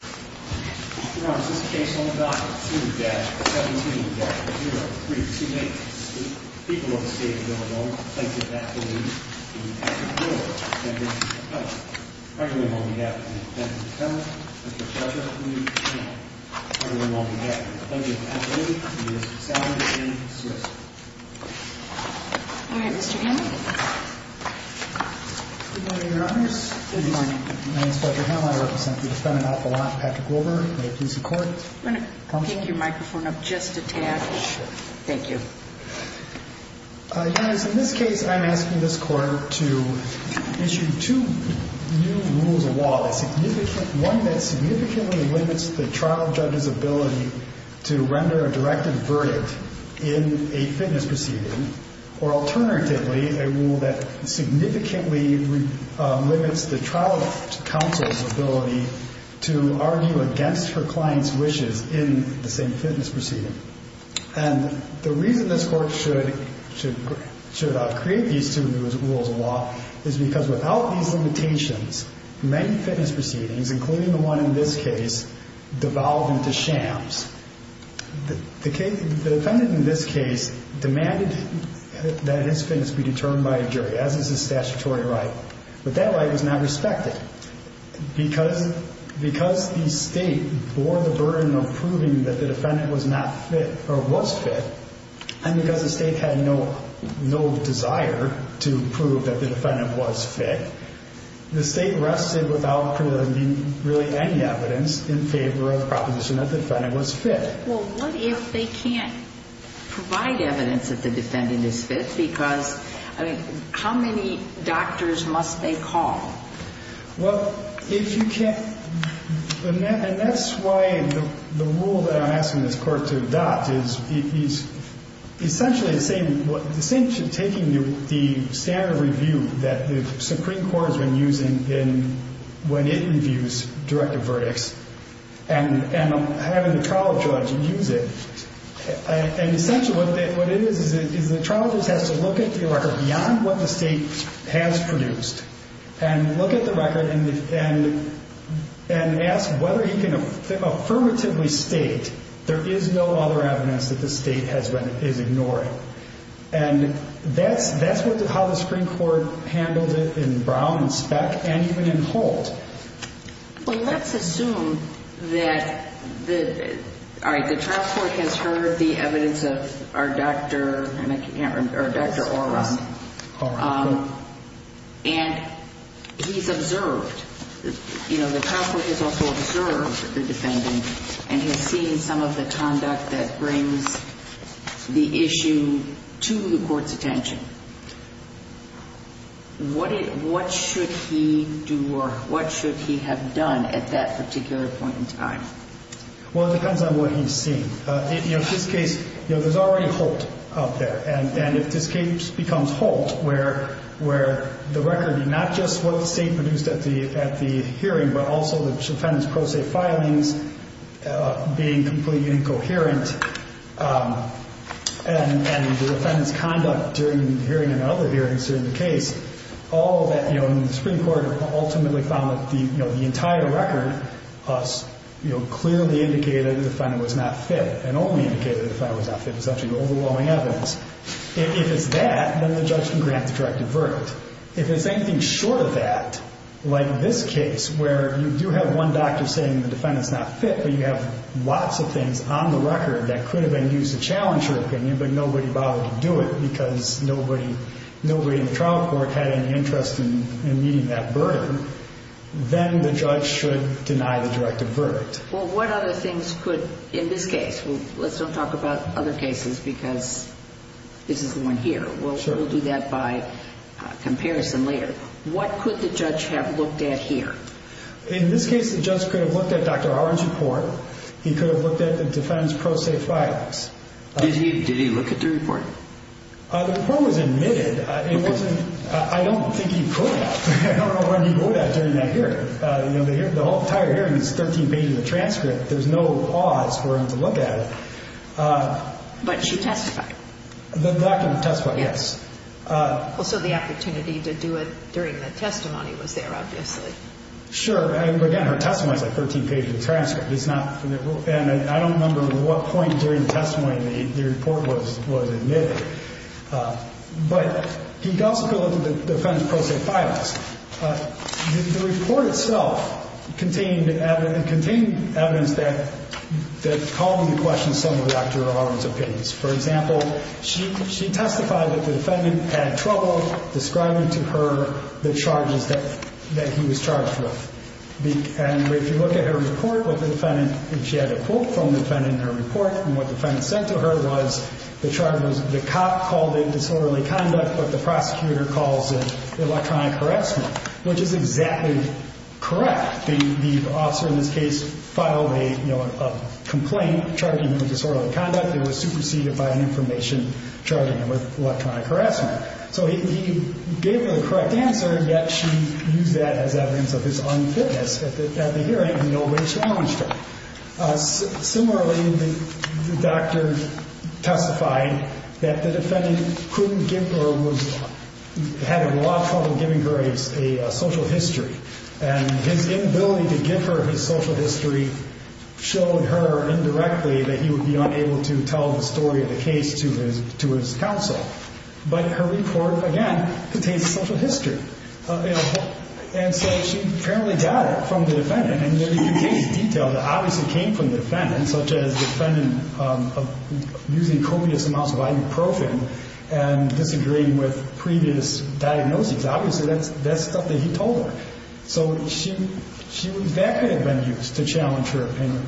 2-17-0328. People of the state of Illinois plaintiff, Anthony, will be acting in court against the defendant. Everyone while we have the defendant in court, Mr. Fletcher, please come. Everyone while we have the plaintiff, Anthony, please come. Alright, Mr. Hammond. Good morning, Your Honors. Good morning. My name is Fletcher Hammond. I represent the defendant, Dr. Patrick Wilber. May it please the Court. I'm going to pick your microphone up just a tad. Sure. Thank you. Your Honors, in this case, I'm asking this Court to issue two new rules of law. One that significantly limits the trial judge's ability to render a directive verdict in a fitness proceeding, or alternatively, a rule that significantly limits the trial counsel's ability to argue against her client's wishes in the same fitness proceeding. And the reason this Court should create these two new rules of law is because without these limitations, many fitness proceedings, including the one in this case, devolve into shams. The defendant in this case demanded that his fitness be determined by a jury, as is his statutory right. But that right was not respected. Because the State bore the burden of proving that the defendant was not fit, or was fit, and because the State had no desire to prove that the defendant was fit, the State rested without proving really any evidence in favor of the proposition that the defendant was fit. Well, what if they can't provide evidence that the defendant is fit? Because, I mean, how many doctors must they call? Well, if you can't – and that's why the rule that I'm asking this Court to adopt is essentially the same – that the Supreme Court has been using when it reviews directive verdicts and having the trial judge use it. And essentially what it is is the trial judge has to look at the record beyond what the State has produced and look at the record and ask whether he can affirmatively state there is no other evidence that the State is ignoring. And that's how the Supreme Court handled it in Brown, in Speck, and even in Holt. Well, let's assume that – all right, the trial court has heard the evidence of our Dr. Oron, and he's observed – you know, the trial court has also observed the defendant and has seen some of the conduct that brings the issue to the Court's attention. What should he do or what should he have done at that particular point in time? Well, it depends on what he's seen. In this case, you know, there's already Holt out there. And if this case becomes Holt, where the record – not just what the State produced at the hearing, but also the defendant's pro se filings being completely incoherent and the defendant's conduct during the hearing and other hearings during the case, all that – you know, the Supreme Court ultimately found that the entire record clearly indicated the defendant was not fit and only indicated the defendant was not fit. It's actually overwhelming evidence. If it's that, then the judge can grant the directive verdict. If it's anything short of that, like this case, where you do have one doctor saying the defendant's not fit, but you have lots of things on the record that could have been used to challenge your opinion, but nobody bothered to do it because nobody in the trial court had any interest in meeting that verdict, then the judge should deny the directive verdict. Well, what other things could – in this case? Let's don't talk about other cases because this is the one here. Sure. But we'll do that by comparison later. What could the judge have looked at here? In this case, the judge could have looked at Dr. Howard's report. He could have looked at the defendant's pro se filings. Did he look at the report? The report was admitted. Okay. It wasn't – I don't think he could. I don't know where he wrote that during that hearing. You know, the entire hearing is 13 pages of transcript. There's no pause for him to look at it. But she testified. That can testify, yes. So the opportunity to do it during the testimony was there, obviously. Sure. Again, her testimony is a 13-page transcript. It's not – and I don't remember at what point during the testimony the report was admitted. But he could also look at the defendant's pro se filings. The report itself contained evidence that calmly questioned some of Dr. Howard's opinions. For example, she testified that the defendant had trouble describing to her the charges that he was charged with. And if you look at her report with the defendant, she had a quote from the defendant in her report. And what the defendant said to her was the charge was the cop called it disorderly conduct, but the prosecutor calls it electronic harassment, which is exactly correct. The officer in this case filed a complaint charging him with disorderly conduct. It was superseded by an information charging him with electronic harassment. So he gave her the correct answer, yet she used that as evidence of his unfitness at the hearing, and nobody challenged her. Similarly, the doctor testified that the defendant couldn't give her – had a lot of trouble giving her a social history. And his inability to give her his social history showed her indirectly that he would be unable to tell the story of the case to his counsel. But her report, again, contains a social history. And so she apparently got it from the defendant. And there are details that obviously came from the defendant, such as the defendant using copious amounts of ibuprofen and disagreeing with previous diagnoses. Obviously, that's stuff that he told her. So she – that could have been used to challenge her opinion.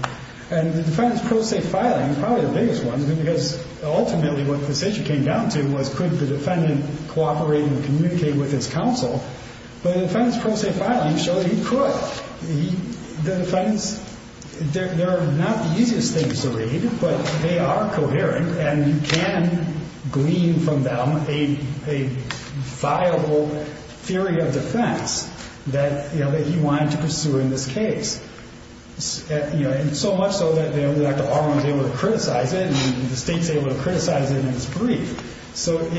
And the defendant's pro se filing is probably the biggest one because ultimately what the decision came down to was could the defendant cooperate and communicate with his counsel. But the defendant's pro se filing showed that he could. Well, the defendants – they're not the easiest things to read, but they are coherent and you can glean from them a viable theory of defense that, you know, that he wanted to pursue in this case. You know, and so much so that, you know, that the R01 is able to criticize it and the state is able to criticize it in its brief. So it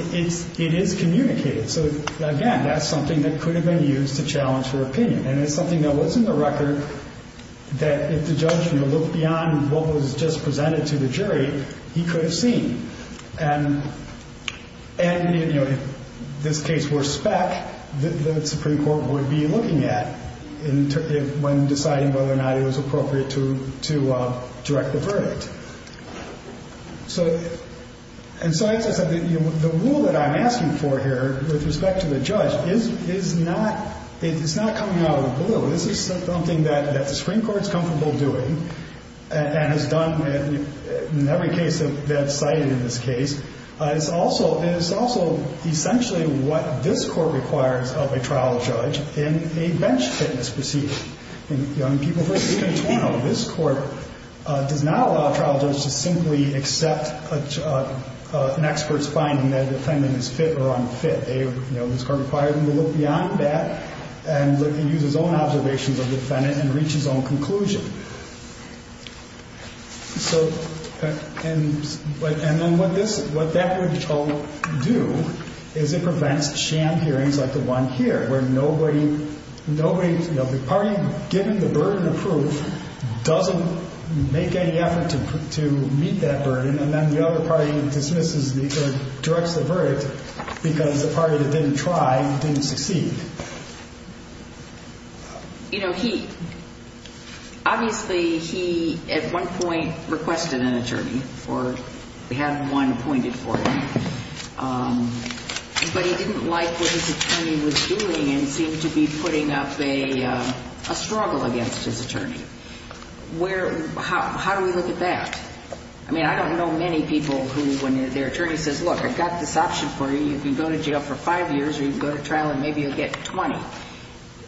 is communicated. So, again, that's something that could have been used to challenge her opinion. And it's something that was in the record that if the judge, you know, looked beyond what was just presented to the jury, he could have seen. And, you know, if this case were spec, the Supreme Court would be looking at it when deciding whether or not it was appropriate to direct the verdict. So – and so, as I said, the rule that I'm asking for here with respect to the judge is not – it's not coming out of the blue. This is something that the Supreme Court is comfortable doing and has done in every case that's cited in this case. It's also – and it's also essentially what this Court requires of a trial judge in a bench fitness proceeding. And young people – this Court does not allow a trial judge to simply accept an expert's finding that a defendant is fit or unfit. You know, this Court requires him to look beyond that and use his own observations of the defendant and reach his own conclusion. So – and then what this – what that would do is it prevents sham hearings like the one here where nobody – nobody – you know, the party given the burden of proof doesn't make any effort to meet that burden. And then the other party dismisses the – directs the verdict because the party that didn't try didn't succeed. You know, he – obviously, he at one point requested an attorney or had one appointed for him. But he didn't like what his attorney was doing and seemed to be putting up a struggle against his attorney. Where – how do we look at that? I mean, I don't know many people who, when their attorney says, look, I've got this option for you. You can go to jail for five years or you can go to trial and maybe you'll get 20.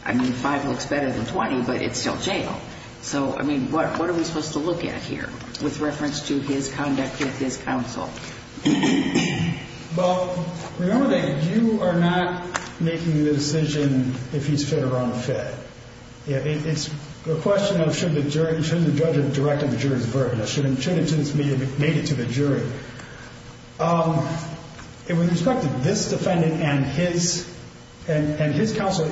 I mean, five looks better than 20, but it's still jail. So, I mean, what are we supposed to look at here with reference to his conduct with his counsel? Well, remember that you are not making the decision if he's fit or unfit. It's a question of should the jury – should the judge have directed the jury's verdict? Or should it just be made it to the jury? With respect to this defendant and his counsel,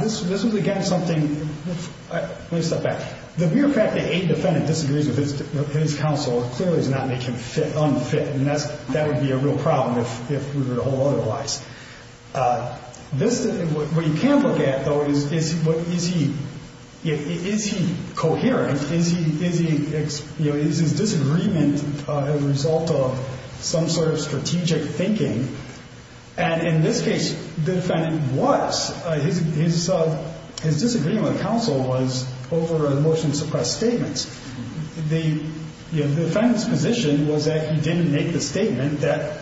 this was, again, something – let me step back. The mere fact that a defendant disagrees with his counsel clearly does not make him fit, unfit. And that would be a real problem if we were to hold otherwise. This – what you can look at, though, is what – is he – is he coherent? Is he – is his disagreement a result of some sort of strategic thinking? And in this case, the defendant was. His disagreement with counsel was over a motion to suppress statements. The defendant's position was that he didn't make the statement that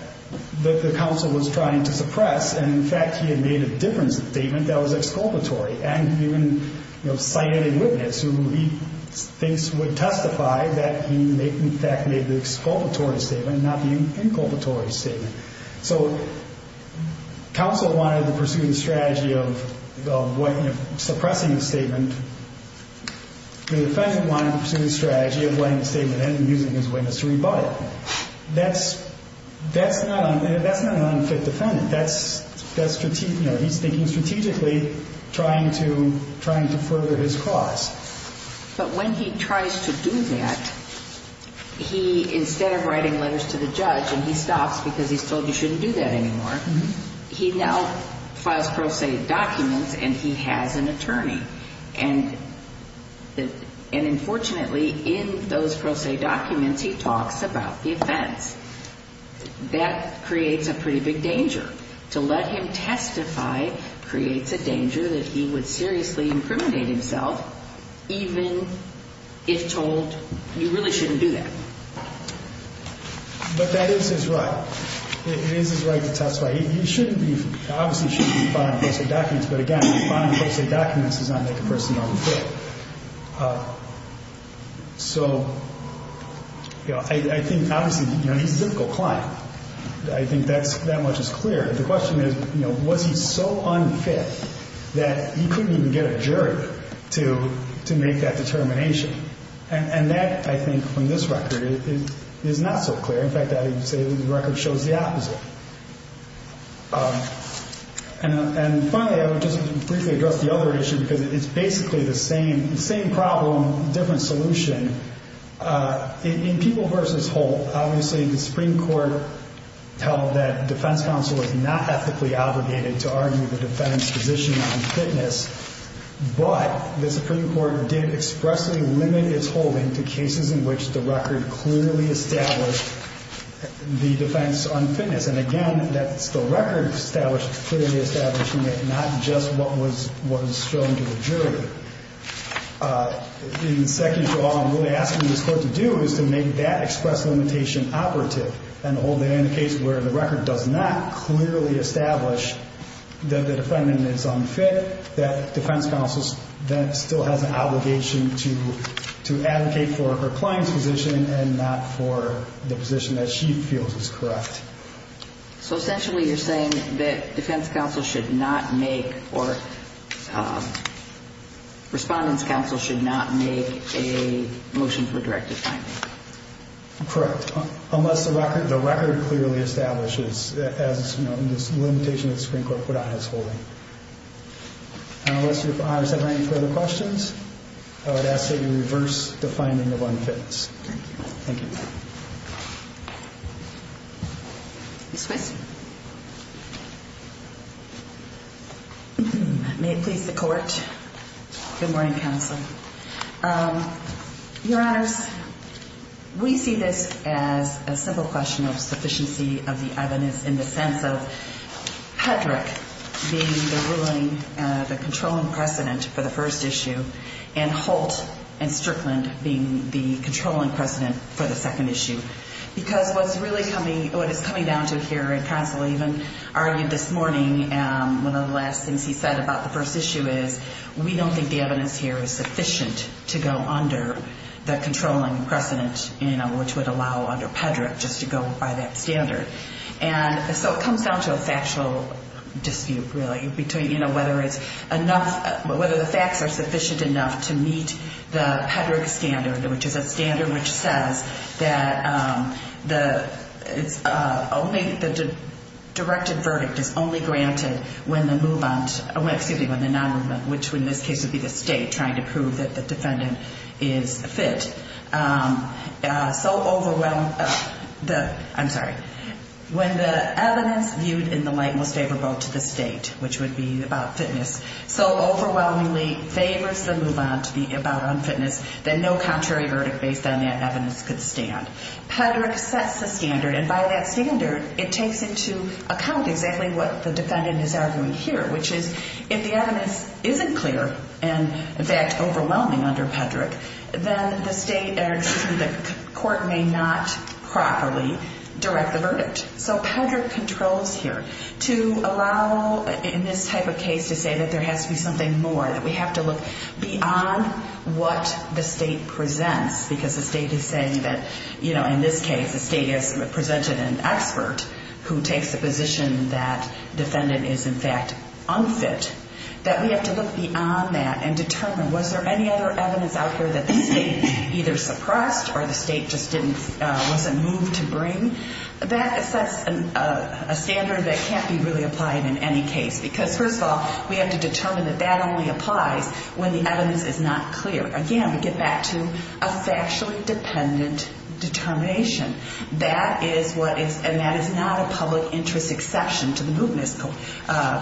the counsel was trying to suppress. And, in fact, he had made a different statement that was exculpatory. And even cited a witness who he thinks would testify that he, in fact, made the exculpatory statement, not the inculpatory statement. So counsel wanted to pursue the strategy of suppressing the statement. The defendant wanted to pursue the strategy of letting the statement end and using his witness to rebut it. That's – that's not – that's not an unfit defendant. That's – that's – you know, he's thinking strategically, trying to – trying to further his cause. But when he tries to do that, he, instead of writing letters to the judge and he stops because he's told you shouldn't do that anymore, he now files pro se documents and he has an attorney. And – and unfortunately, in those pro se documents, he talks about the offense. That creates a pretty big danger. To let him testify creates a danger that he would seriously incriminate himself even if told you really shouldn't do that. But that is his right. It is his right to testify. He shouldn't be – he obviously shouldn't be filing pro se documents. But, again, filing pro se documents does not make a person unfit. So, you know, I think obviously, you know, he's a difficult client. I think that's – that much is clear. The question is, you know, was he so unfit that he couldn't even get a jury to – to make that determination? And that, I think, from this record, is not so clear. In fact, I would say the record shows the opposite. And finally, I would just briefly address the other issue because it's basically the same problem, different solution. In People v. Holt, obviously the Supreme Court held that defense counsel is not ethically obligated to argue the defendant's position on fitness. But the Supreme Court did expressly limit its holding to cases in which the record clearly established the defense unfitness. And, again, that's the record clearly establishing it, not just what was – what was shown to the jury. In the second draw, I'm really asking this court to do is to make that express limitation operative and hold it in a case where the record does not clearly establish that the defendant is unfit, that defense counsel then still has an obligation to – to advocate for her client's position and not for the position that she feels is correct. So, essentially, you're saying that defense counsel should not make – or respondent's counsel should not make a motion for directive finding? Correct. Unless the record – the record clearly establishes, as, you know, in this limitation that the Supreme Court put on his holding. And unless Your Honors have any further questions, I would ask that you reverse the finding of unfitness. Thank you. Thank you. Ms. Whitson. May it please the Court. Good morning, Counsel. Your Honors, we see this as a simple question of sufficiency of the evidence in the sense of Hedrick being the ruling – the controlling precedent for the first issue and Holt and Strickland being the controlling precedent for the second issue. Because what's really coming – what it's coming down to here, and Counsel even argued this morning, one of the last things he said about the first issue is that we don't think the evidence here is sufficient to go under the controlling precedent, you know, which would allow under Hedrick just to go by that standard. And so it comes down to a factual dispute, really, between, you know, whether it's enough – whether the facts are sufficient enough to meet the Hedrick standard, which is a standard which says that the – it's only – the directed verdict is only granted when the move-on – excuse me, when the non-movement, which in this case would be the State trying to prove that the defendant is fit. So overwhelm – I'm sorry. When the evidence viewed in the light most favorable to the State, which would be about fitness, so overwhelmingly favors the move-on to be about unfitness that no contrary verdict based on that evidence could stand. Hedrick sets the standard, and by that standard, it takes into account exactly what the defendant is arguing here, which is if the evidence isn't clear and, in fact, overwhelming under Hedrick, then the State – or, excuse me, the court may not properly direct the verdict. So Hedrick controls here to allow, in this type of case, to say that there has to be something more, that we have to look beyond what the State presents because the State is saying that, you know, in this case, the State has presented an expert who takes the position that defendant is, in fact, unfit, that we have to look beyond that and determine, was there any other evidence out here that the State either suppressed or the State just didn't – wasn't moved to bring? That sets a standard that can't be really applied in any case because, first of all, we have to determine that that only applies when the evidence is not clear. Again, we get back to a factually dependent determination. That is what is – and that is not a public interest exception to the mootness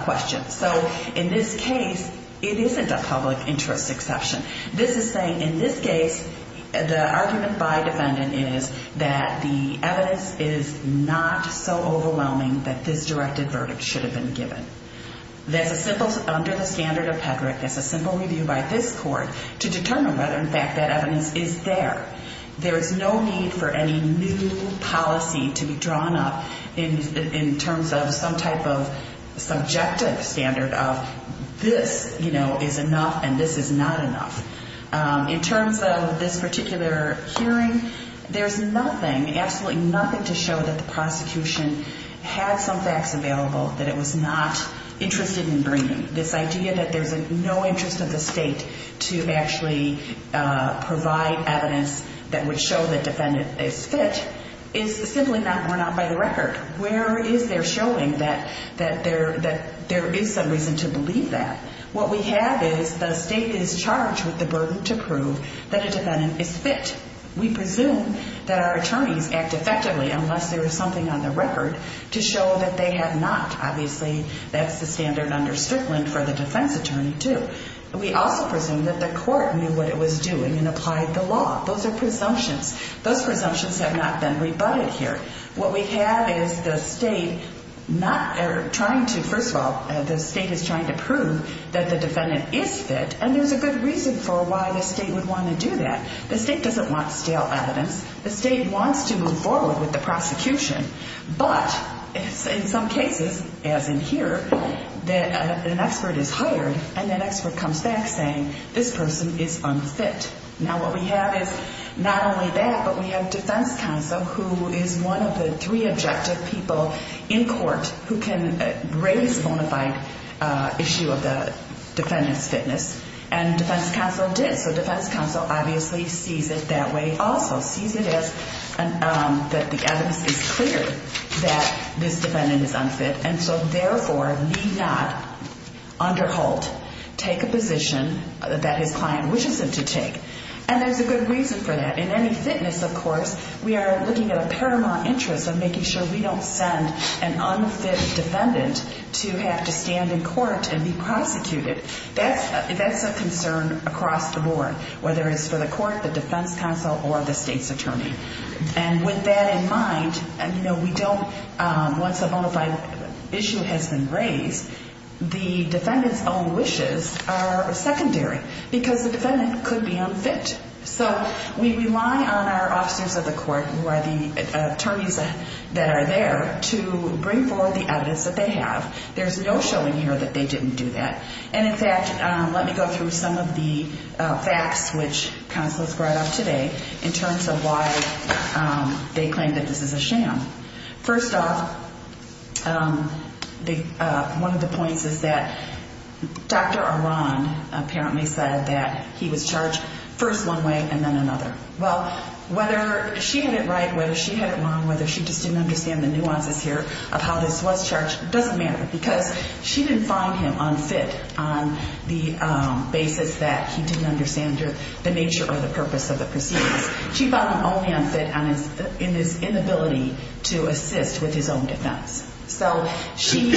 question. So in this case, it isn't a public interest exception. This is saying, in this case, the argument by defendant is that the evidence is not so overwhelming that this directed verdict should have been given. That's a simple – under the standard of pederasty, that's a simple review by this court to determine whether, in fact, that evidence is there. There is no need for any new policy to be drawn up in terms of some type of subjective standard of, this, you know, is enough and this is not enough. In terms of this particular hearing, there's nothing, absolutely nothing, to show that the prosecution had some facts available that it was not interested in bringing. This idea that there's no interest of the state to actually provide evidence that would show the defendant is fit is simply not worn out by the record. Where is there showing that there is some reason to believe that? What we have is the state is charged with the burden to prove that a defendant is fit. We presume that our attorneys act effectively unless there is something on the record to show that they have not. Obviously, that's the standard under Strickland for the defense attorney, too. We also presume that the court knew what it was doing and applied the law. Those are presumptions. Those presumptions have not been rebutted here. What we have is the state not – or trying to, first of all, the state is trying to prove that the defendant is fit and there's a good reason for why the state would want to do that. The state doesn't want stale evidence. The state wants to move forward with the prosecution. But in some cases, as in here, an expert is hired and that expert comes back saying this person is unfit. Now, what we have is not only that, but we have defense counsel who is one of the three objective people in court who can raise a bona fide issue of the defendant's fitness, and defense counsel did. He sees it that way. He also sees it as that the evidence is clear that this defendant is unfit, and so therefore need not under Holt take a position that his client wishes him to take. And there's a good reason for that. In any fitness, of course, we are looking at a paramount interest of making sure we don't send an unfit defendant to have to stand in court and be prosecuted. That's a concern across the board, whether it's for the court, the defense counsel, or the state's attorney. And with that in mind, once a bona fide issue has been raised, the defendant's own wishes are secondary because the defendant could be unfit. So we rely on our officers of the court who are the attorneys that are there to bring forward the evidence that they have. There's no showing here that they didn't do that. And, in fact, let me go through some of the facts, which counsel has brought up today, in terms of why they claim that this is a sham. First off, one of the points is that Dr. Aran apparently said that he was charged first one way and then another. Well, whether she had it right, whether she had it wrong, whether she just didn't understand the nuances here of how this was charged doesn't matter because she didn't find him unfit on the basis that he didn't understand the nature or the purpose of the proceedings. She found him only unfit in his inability to assist with his own defense. So she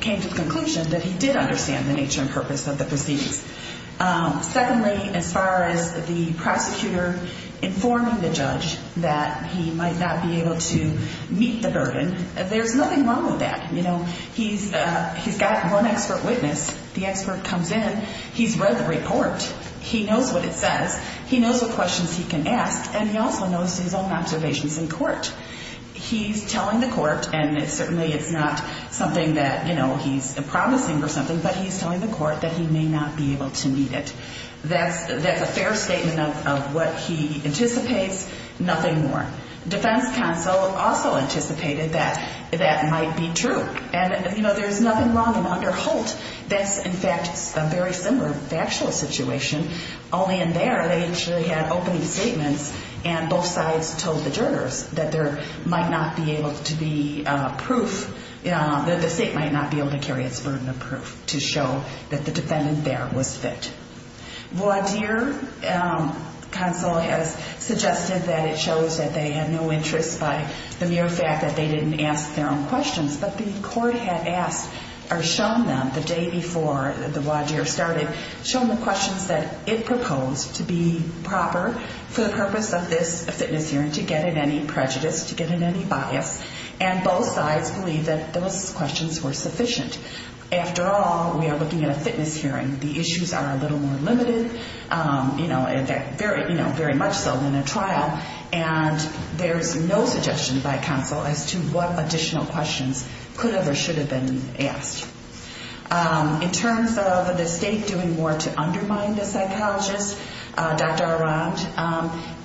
came to the conclusion that he did understand the nature and purpose of the proceedings. Secondly, as far as the prosecutor informing the judge that he might not be able to meet the burden, there's nothing wrong with that. You know, he's got one expert witness. The expert comes in. He's read the report. He knows what it says. He knows what questions he can ask, and he also knows his own observations in court. He's telling the court, and certainly it's not something that, you know, he's promising or something, but he's telling the court that he may not be able to meet it. That's a fair statement of what he anticipates. Nothing more. Defense counsel also anticipated that that might be true. And, you know, there's nothing wrong under Holt. That's, in fact, a very similar factual situation, only in there they actually had opening statements, and both sides told the jurors that there might not be able to be proof, that the state might not be able to carry its burden of proof to show that the defendant there was fit. Waudeer counsel has suggested that it shows that they had no interest by the mere fact that they didn't ask their own questions, but the court had asked or shown them the day before the Waudeer started, shown the questions that it proposed to be proper for the purpose of this fitness hearing to get at any prejudice, to get at any bias, and both sides believe that those questions were sufficient. After all, we are looking at a fitness hearing. The issues are a little more limited, you know, very much so than a trial, and there's no suggestion by counsel as to what additional questions could have or should have been asked. In terms of the state doing more to undermine the psychologist, Dr. Arand,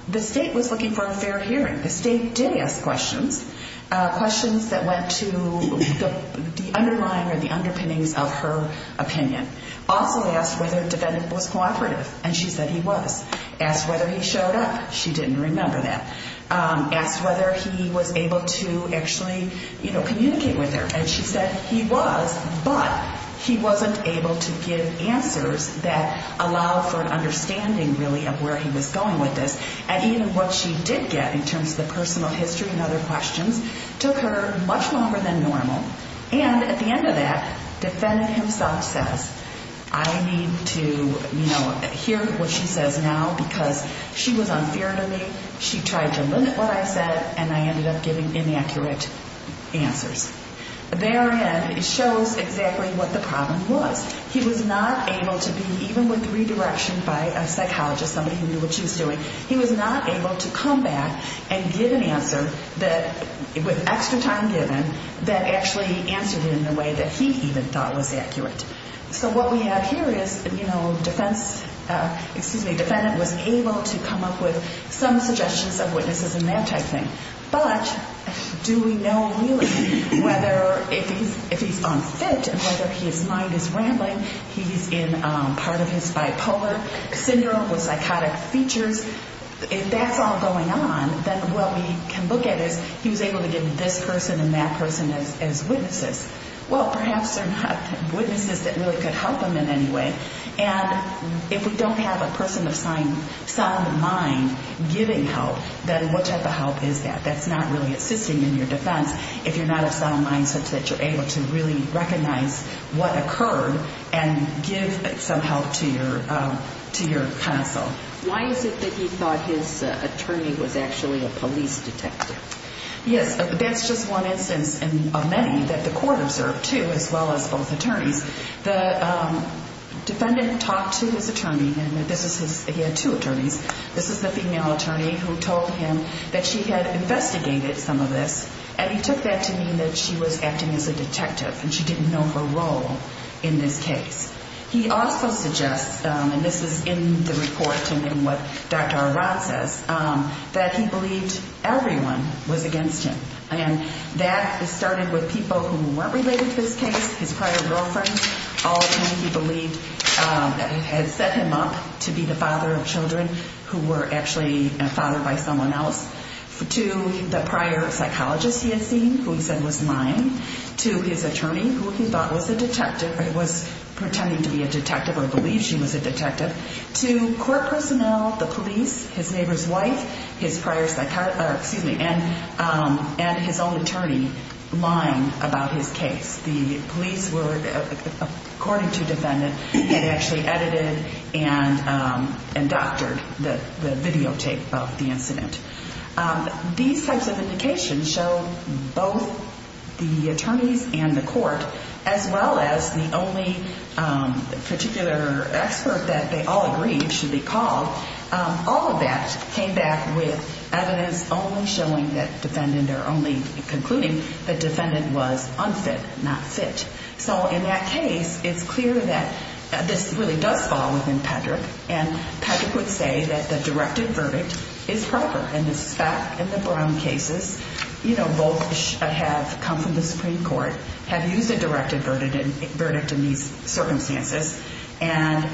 the state was looking for a fair hearing. The state did ask questions, questions that went to the underlying or the underpinnings of her opinion. Also asked whether the defendant was cooperative, and she said he was. Asked whether he showed up. She didn't remember that. Asked whether he was able to actually, you know, communicate with her, and she said he was, but he wasn't able to give answers that allowed for an understanding, really, of where he was going with this, and even what she did get in terms of the personal history and other questions took her much longer than normal, and at the end of that, the defendant himself says, I need to, you know, hear what she says now because she was unfair to me, she tried to limit what I said, and I ended up giving inaccurate answers. Therein, it shows exactly what the problem was. He was not able to be, even with redirection by a psychologist, somebody who knew what she was doing, he was not able to come back and give an answer that, with extra time given, that actually answered it in a way that he even thought was accurate. So what we have here is, you know, defense, excuse me, defendant was able to come up with some suggestions of witnesses and that type thing, but do we know, really, whether if he's unfit and whether his mind is rambling, he's in part of his bipolar syndrome with psychotic features, if that's all going on, then what we can look at is, he was able to give this person and that person as witnesses. Well, perhaps they're not witnesses that really could help him in any way, and if we don't have a person of sound mind giving help, then what type of help is that? That's not really assisting in your defense if you're not of sound mind, such that you're able to really recognize what occurred and give some help to your counsel. Why is it that he thought his attorney was actually a police detective? Yes, that's just one instance of many that the court observed, too, as well as both attorneys. The defendant talked to his attorney, and he had two attorneys. This is the female attorney who told him that she had investigated some of this, and he took that to mean that she was acting as a detective and she didn't know her role in this case. He also suggests, and this is in the report and in what Dr. Arad says, that he believed everyone was against him, and that started with people who weren't related to this case, his prior girlfriends, all of whom he believed had set him up to be the father of children who were actually a father by someone else, to the prior psychologist he had seen, who he said was lying, to his attorney, who he thought was a detective or was pretending to be a detective or believed she was a detective, to court personnel, the police, his neighbor's wife, his prior, excuse me, and his own attorney lying about his case. The police were, according to defendant, had actually edited and doctored the videotape of the incident. These types of indications show both the attorneys and the court, as well as the only particular expert that they all agreed should be called. All of that came back with evidence only showing that defendant or only concluding that defendant was unfit, not fit. So in that case, it's clear that this really does fall within Patrick, and Patrick would say that the directed verdict is proper. And this is fact in the Brown cases, you know, both have come from the Supreme Court, have used a directed verdict in these circumstances, and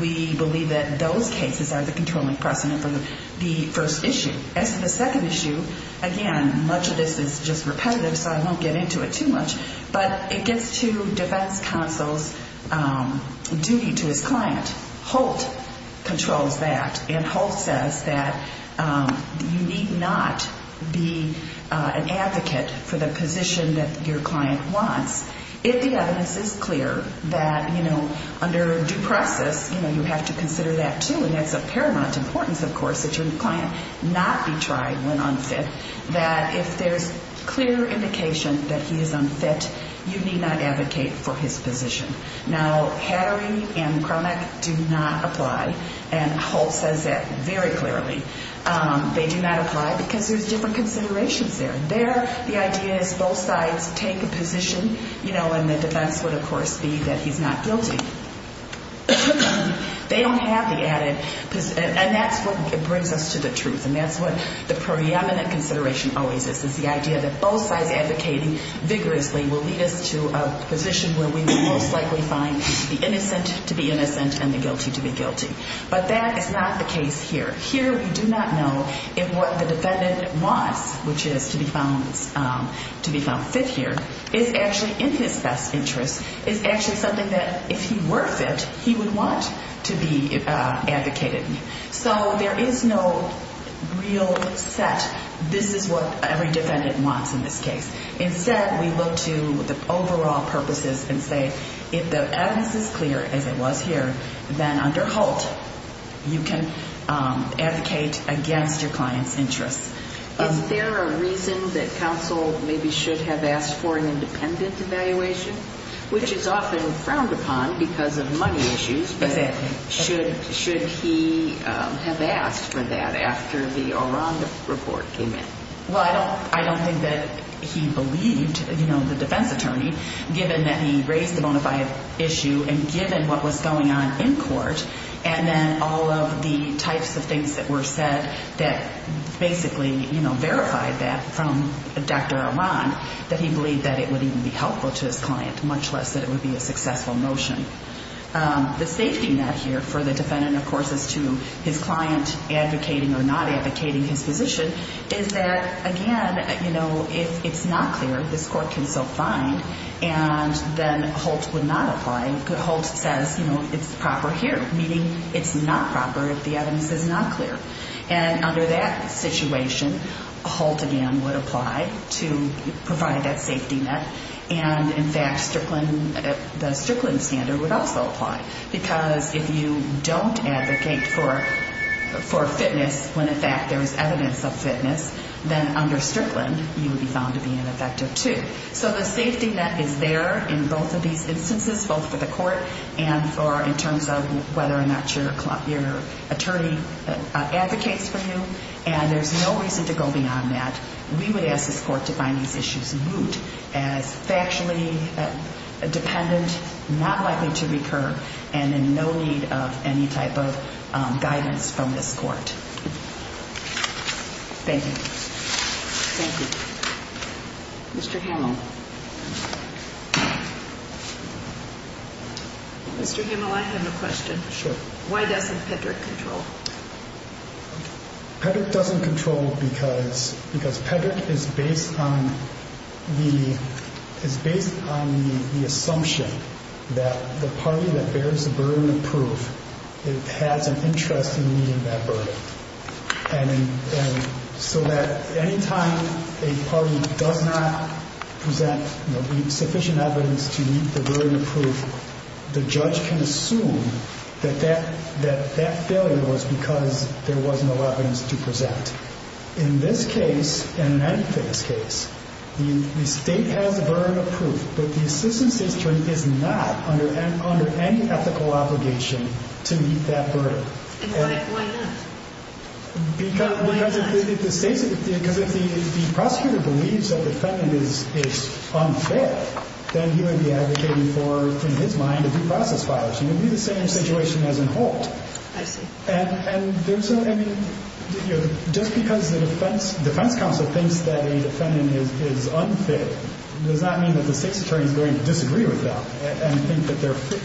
we believe that those cases are the controlling precedent for the first issue. As for the second issue, again, much of this is just repetitive, so I won't get into it too much, but it gets to defense counsel's duty to his client. Holt controls that, and Holt says that you need not be an advocate for the position that your client wants. If the evidence is clear that, you know, under due process, you know, you have to consider that, too, and that's of paramount importance, of course, that your client not be tried when unfit, that if there's clear indication that he is unfit, you need not advocate for his position. Now, Hattery and Cromack do not apply, and Holt says that very clearly. They do not apply because there's different considerations there. The idea is both sides take a position, you know, and the defense would, of course, be that he's not guilty. They don't have the added, and that's what brings us to the truth, and that's what the preeminent consideration always is, is the idea that both sides advocating vigorously will lead us to a position where we will most likely find the innocent to be innocent and the guilty to be guilty, but that is not the case here. Here we do not know if what the defendant wants, which is to be found fit here, is actually in his best interest, is actually something that, if he were fit, he would want to be advocated. So there is no real set, this is what every defendant wants in this case. Instead, we look to the overall purposes and say, if the evidence is clear, as it was here, then under Holt, you can advocate against your client's interests. Is there a reason that counsel maybe should have asked for an independent evaluation, which is often frowned upon because of money issues, but should he have asked for that after the Auranda report came in? Well, I don't think that he believed, you know, the defense attorney, given that he raised the bona fide issue and given what was going on in court, and then all of the types of things that were said that basically, you know, verified that from Dr. Auranda, that he believed that it would even be helpful to his client, much less that it would be a successful motion. The safety net here for the defendant, of course, as to his client advocating or not advocating his position, is that, again, you know, if it's not clear, this court can still find, and then Holt would not apply. Holt says, you know, it's proper here, meaning it's not proper if the evidence is not clear. And under that situation, Holt, again, would apply to provide that safety net, and in fact, the Strickland standard would also apply. Because if you don't advocate for fitness when, in fact, there is evidence of fitness, then under Strickland, you would be found to be ineffective too. So the safety net is there in both of these instances, both for the court and for in terms of whether or not your attorney advocates for you, and there's no reason to go beyond that. We would ask this court to find these issues moot as factually dependent, not likely to recur, and in no need of any type of guidance from this court. Thank you. Thank you. Mr. Hamill. Mr. Hamill, I have a question. Sure. Why doesn't Pedrick control? Pedrick doesn't control because Pedrick is based on the assumption that the party that bears the burden of proof, it has an interest in meeting that burden. And so that any time a party does not present sufficient evidence to meet the burden of proof, the judge can assume that that failure was because there was no evidence to present. In this case, and in many cases, the state has the burden of proof, but the assistant state attorney is not under any ethical obligation to meet that burden. And why not? Because if the prosecutor believes that the defendant is unfair, then he would be advocating for, in his mind, a due process violation. It would be the same situation as in Holt. I see. And there's a, I mean, you know, just because the defense counsel thinks that a defendant is unfit, does not mean that the state's attorney is going to disagree with them and think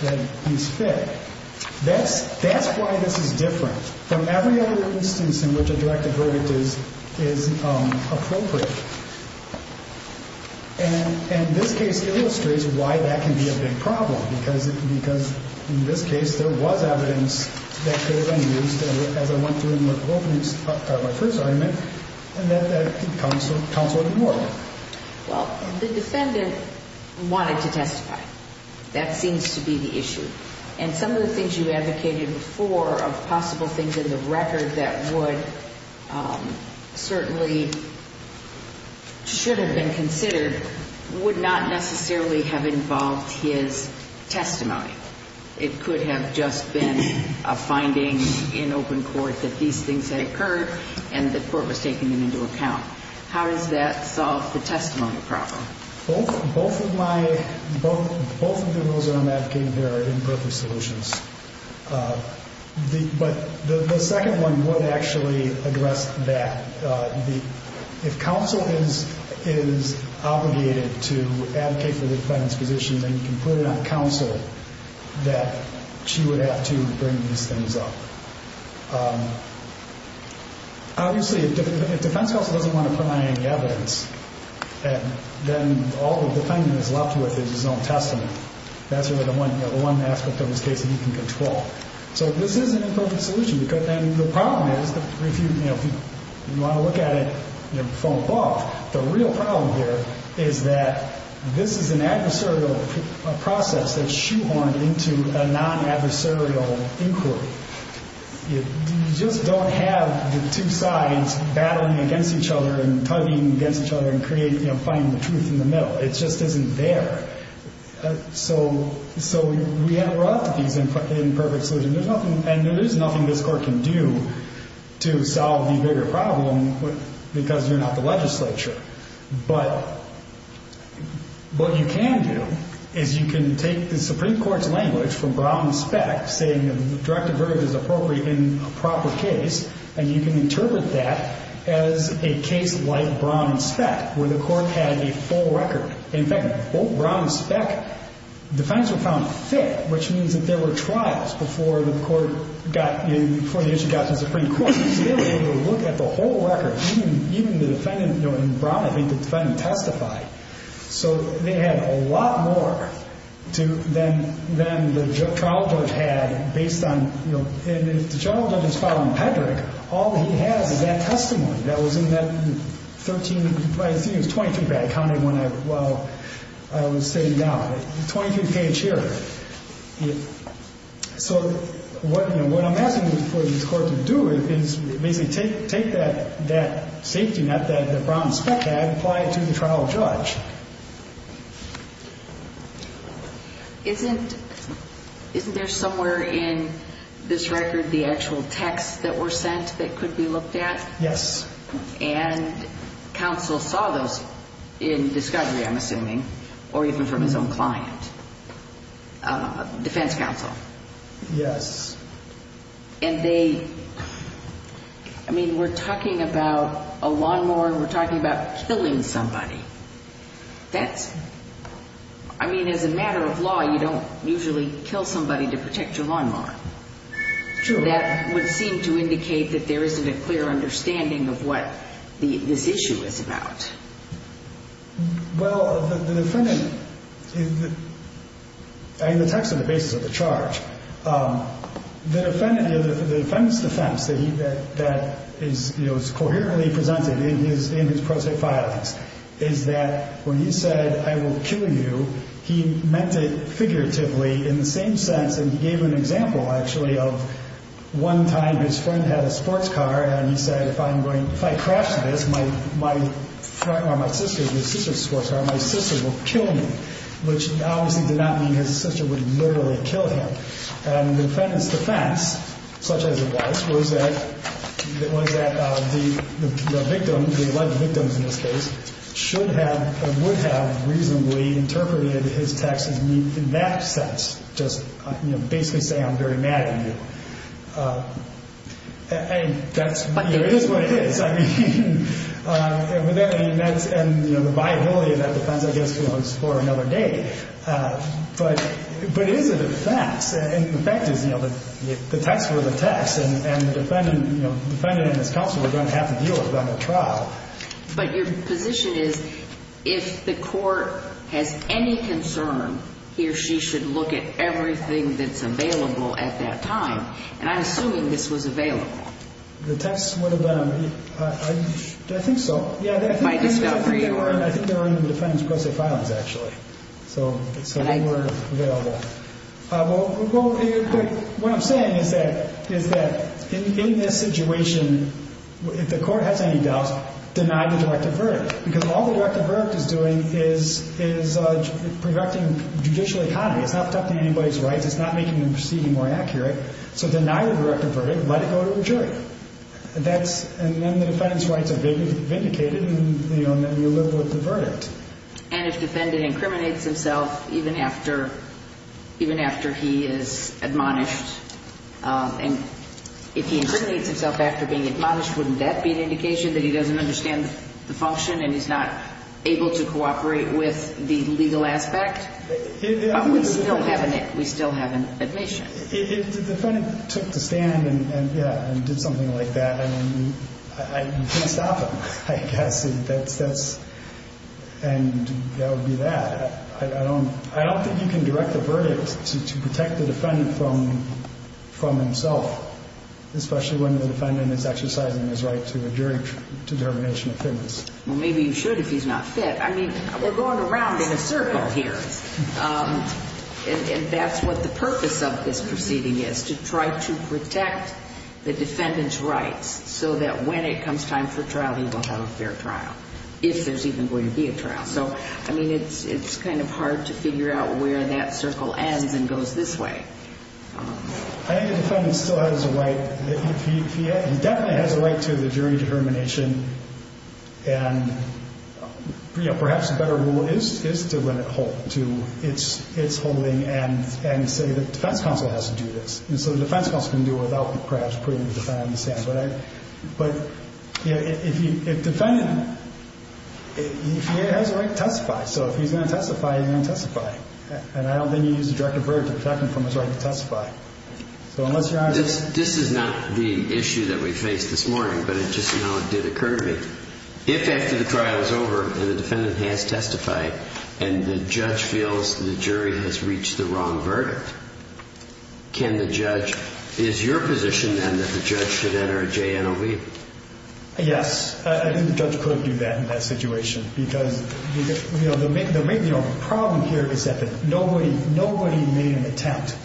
that he's fit. That's why this is different from every other instance in which a directed verdict is appropriate. And this case illustrates why that can be a big problem, because in this case there was evidence that could have been used, as I went through in my first argument, and that counsel ignored. Well, the defendant wanted to testify. That seems to be the issue. And some of the things you advocated for are possible things in the record that would certainly, should have been considered, would not necessarily have involved his testimony. It could have just been a finding in open court that these things had occurred and the court was taking them into account. How does that solve the testimony problem? Both of my, both of the rules that I'm advocating here are imperfect solutions. But the second one would actually address that. If counsel is obligated to advocate for the defendant's position, then you can put it on counsel that she would have to bring these things up. Obviously, if defense counsel doesn't want to provide any evidence, then all the defendant is left with is his own testimony. That's really the one aspect of this case that you can control. So this is an imperfect solution. And the problem is, if you want to look at it from above, the real problem here is that this is an adversarial process that's shoehorned into a non-adversarial inquiry. You just don't have the two sides battling against each other and tugging against each other and finding the truth in the middle. It just isn't there. So we have a lot of these imperfect solutions. And there is nothing this court can do to solve the bigger problem because you're not the legislature. But what you can do is you can take the Supreme Court's language from Brown and Speck, saying the directive verdict is appropriate in a proper case, and you can interpret that as a case like Brown and Speck, where the court had a full record. In fact, both Brown and Speck defendants were found fit, which means that there were trials before the issue got to the Supreme Court. So they were able to look at the whole record. Even the defendant in Brown, I think the defendant testified. So they had a lot more than the general judge had based on the general judge's file in Pedrick. All he has is that testimony that was in that 13, I think it was 23, that I counted while I was sitting down, 23 page here. So what I'm asking for this court to do is basically take that safety net that Brown and Speck had and apply it to the trial judge. Isn't there somewhere in this record the actual texts that were sent that could be looked at? Yes. And counsel saw those in discovery, I'm assuming, or even from his own client, defense counsel. Yes. And they, I mean, we're talking about a lawnmower and we're talking about killing somebody. That's, I mean, as a matter of law, you don't usually kill somebody to protect your lawnmower. True. And that would seem to indicate that there isn't a clear understanding of what this issue is about. Well, the defendant, I mean, the text is the basis of the charge. The defendant's defense that is coherently presented in his pro se filings is that when he said, I will kill you, he meant it figuratively in the same sense, and he gave an example, actually, of one time his friend had a sports car and he said, if I crash this, my sister's sports car, my sister will kill me, which obviously did not mean his sister would literally kill him. And the defendant's defense, such as it was, was that the victim, the alleged victims in this case, should have or would have reasonably interpreted his text in that sense. Just basically say I'm very mad at you. And that's what it is. I mean, and the viability of that defense, I guess, belongs for another day. But is it a fact? And the fact is, you know, the text were the text. And the defendant and his counsel were going to have to deal with that in trial. But your position is, if the court has any concern, he or she should look at everything that's available at that time. And I'm assuming this was available. The text would have been, I think so. Yeah, I think they were in the defendant's pro se filings, actually. So they were available. Well, what I'm saying is that in this situation, if the court has any doubts, deny the directive verdict. Because all the directive verdict is doing is protecting judicial economy. It's not protecting anybody's rights. It's not making the proceeding more accurate. So deny the directive verdict. Let it go to a jury. And then the defendant's rights are vindicated, and you live with the verdict. And if the defendant incriminates himself even after he is admonished, and if he incriminates himself after being admonished, wouldn't that be an indication that he doesn't understand the function and he's not able to cooperate with the legal aspect? But we still have an admission. If the defendant took the stand and did something like that, I mean, you can't stop him, I guess. And that would be that. I don't think you can direct the verdict to protect the defendant from himself, especially when the defendant is exercising his right to a jury determination of fitness. Well, maybe you should if he's not fit. I mean, we're going around in a circle here. And that's what the purpose of this proceeding is, to try to protect the defendant's rights so that when it comes time for trial, he will have a fair trial, if there's even going to be a trial. So, I mean, it's kind of hard to figure out where that circle ends and goes this way. I think the defendant still has a right. He definitely has a right to the jury determination. And, you know, perhaps a better rule is to let it hold to its holding and say the defense counsel has to do this. And so the defense counsel can do it without perhaps putting the defendant on the stand. But if the defendant has a right to testify, so if he's going to testify, he's going to testify. And I don't think you use a direct verdict to protect him from his right to testify. So unless you're honest. This is not the issue that we faced this morning, but it just now did occur to me. If after the trial is over and the defendant has testified and the judge feels the jury has reached the wrong verdict, can the judge, is your position then that the judge should enter a JNOV? Yes. I think the judge could do that in that situation. Because, you know, the main problem here is that nobody made an attempt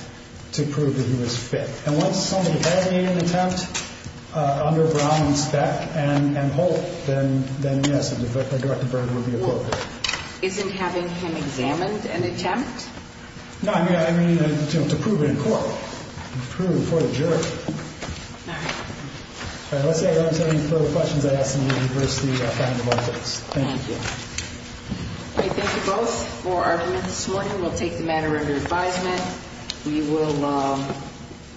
to prove that he was fit. And once somebody has made an attempt under Brown and Speck and Holt, then yes, a direct verdict would be appropriate. Isn't having him examined an attempt? No, I mean to prove it in court. To prove it before the jury. All right. Unless there are any further questions, I ask that we reverse the finding of our case. Thank you. Okay. Thank you both for arguing this morning. We'll take the matter under advisement. We will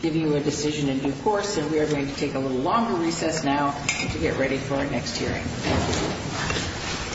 give you a decision in due course, and we are going to take a little longer recess now to get ready for our next hearing. Thank you.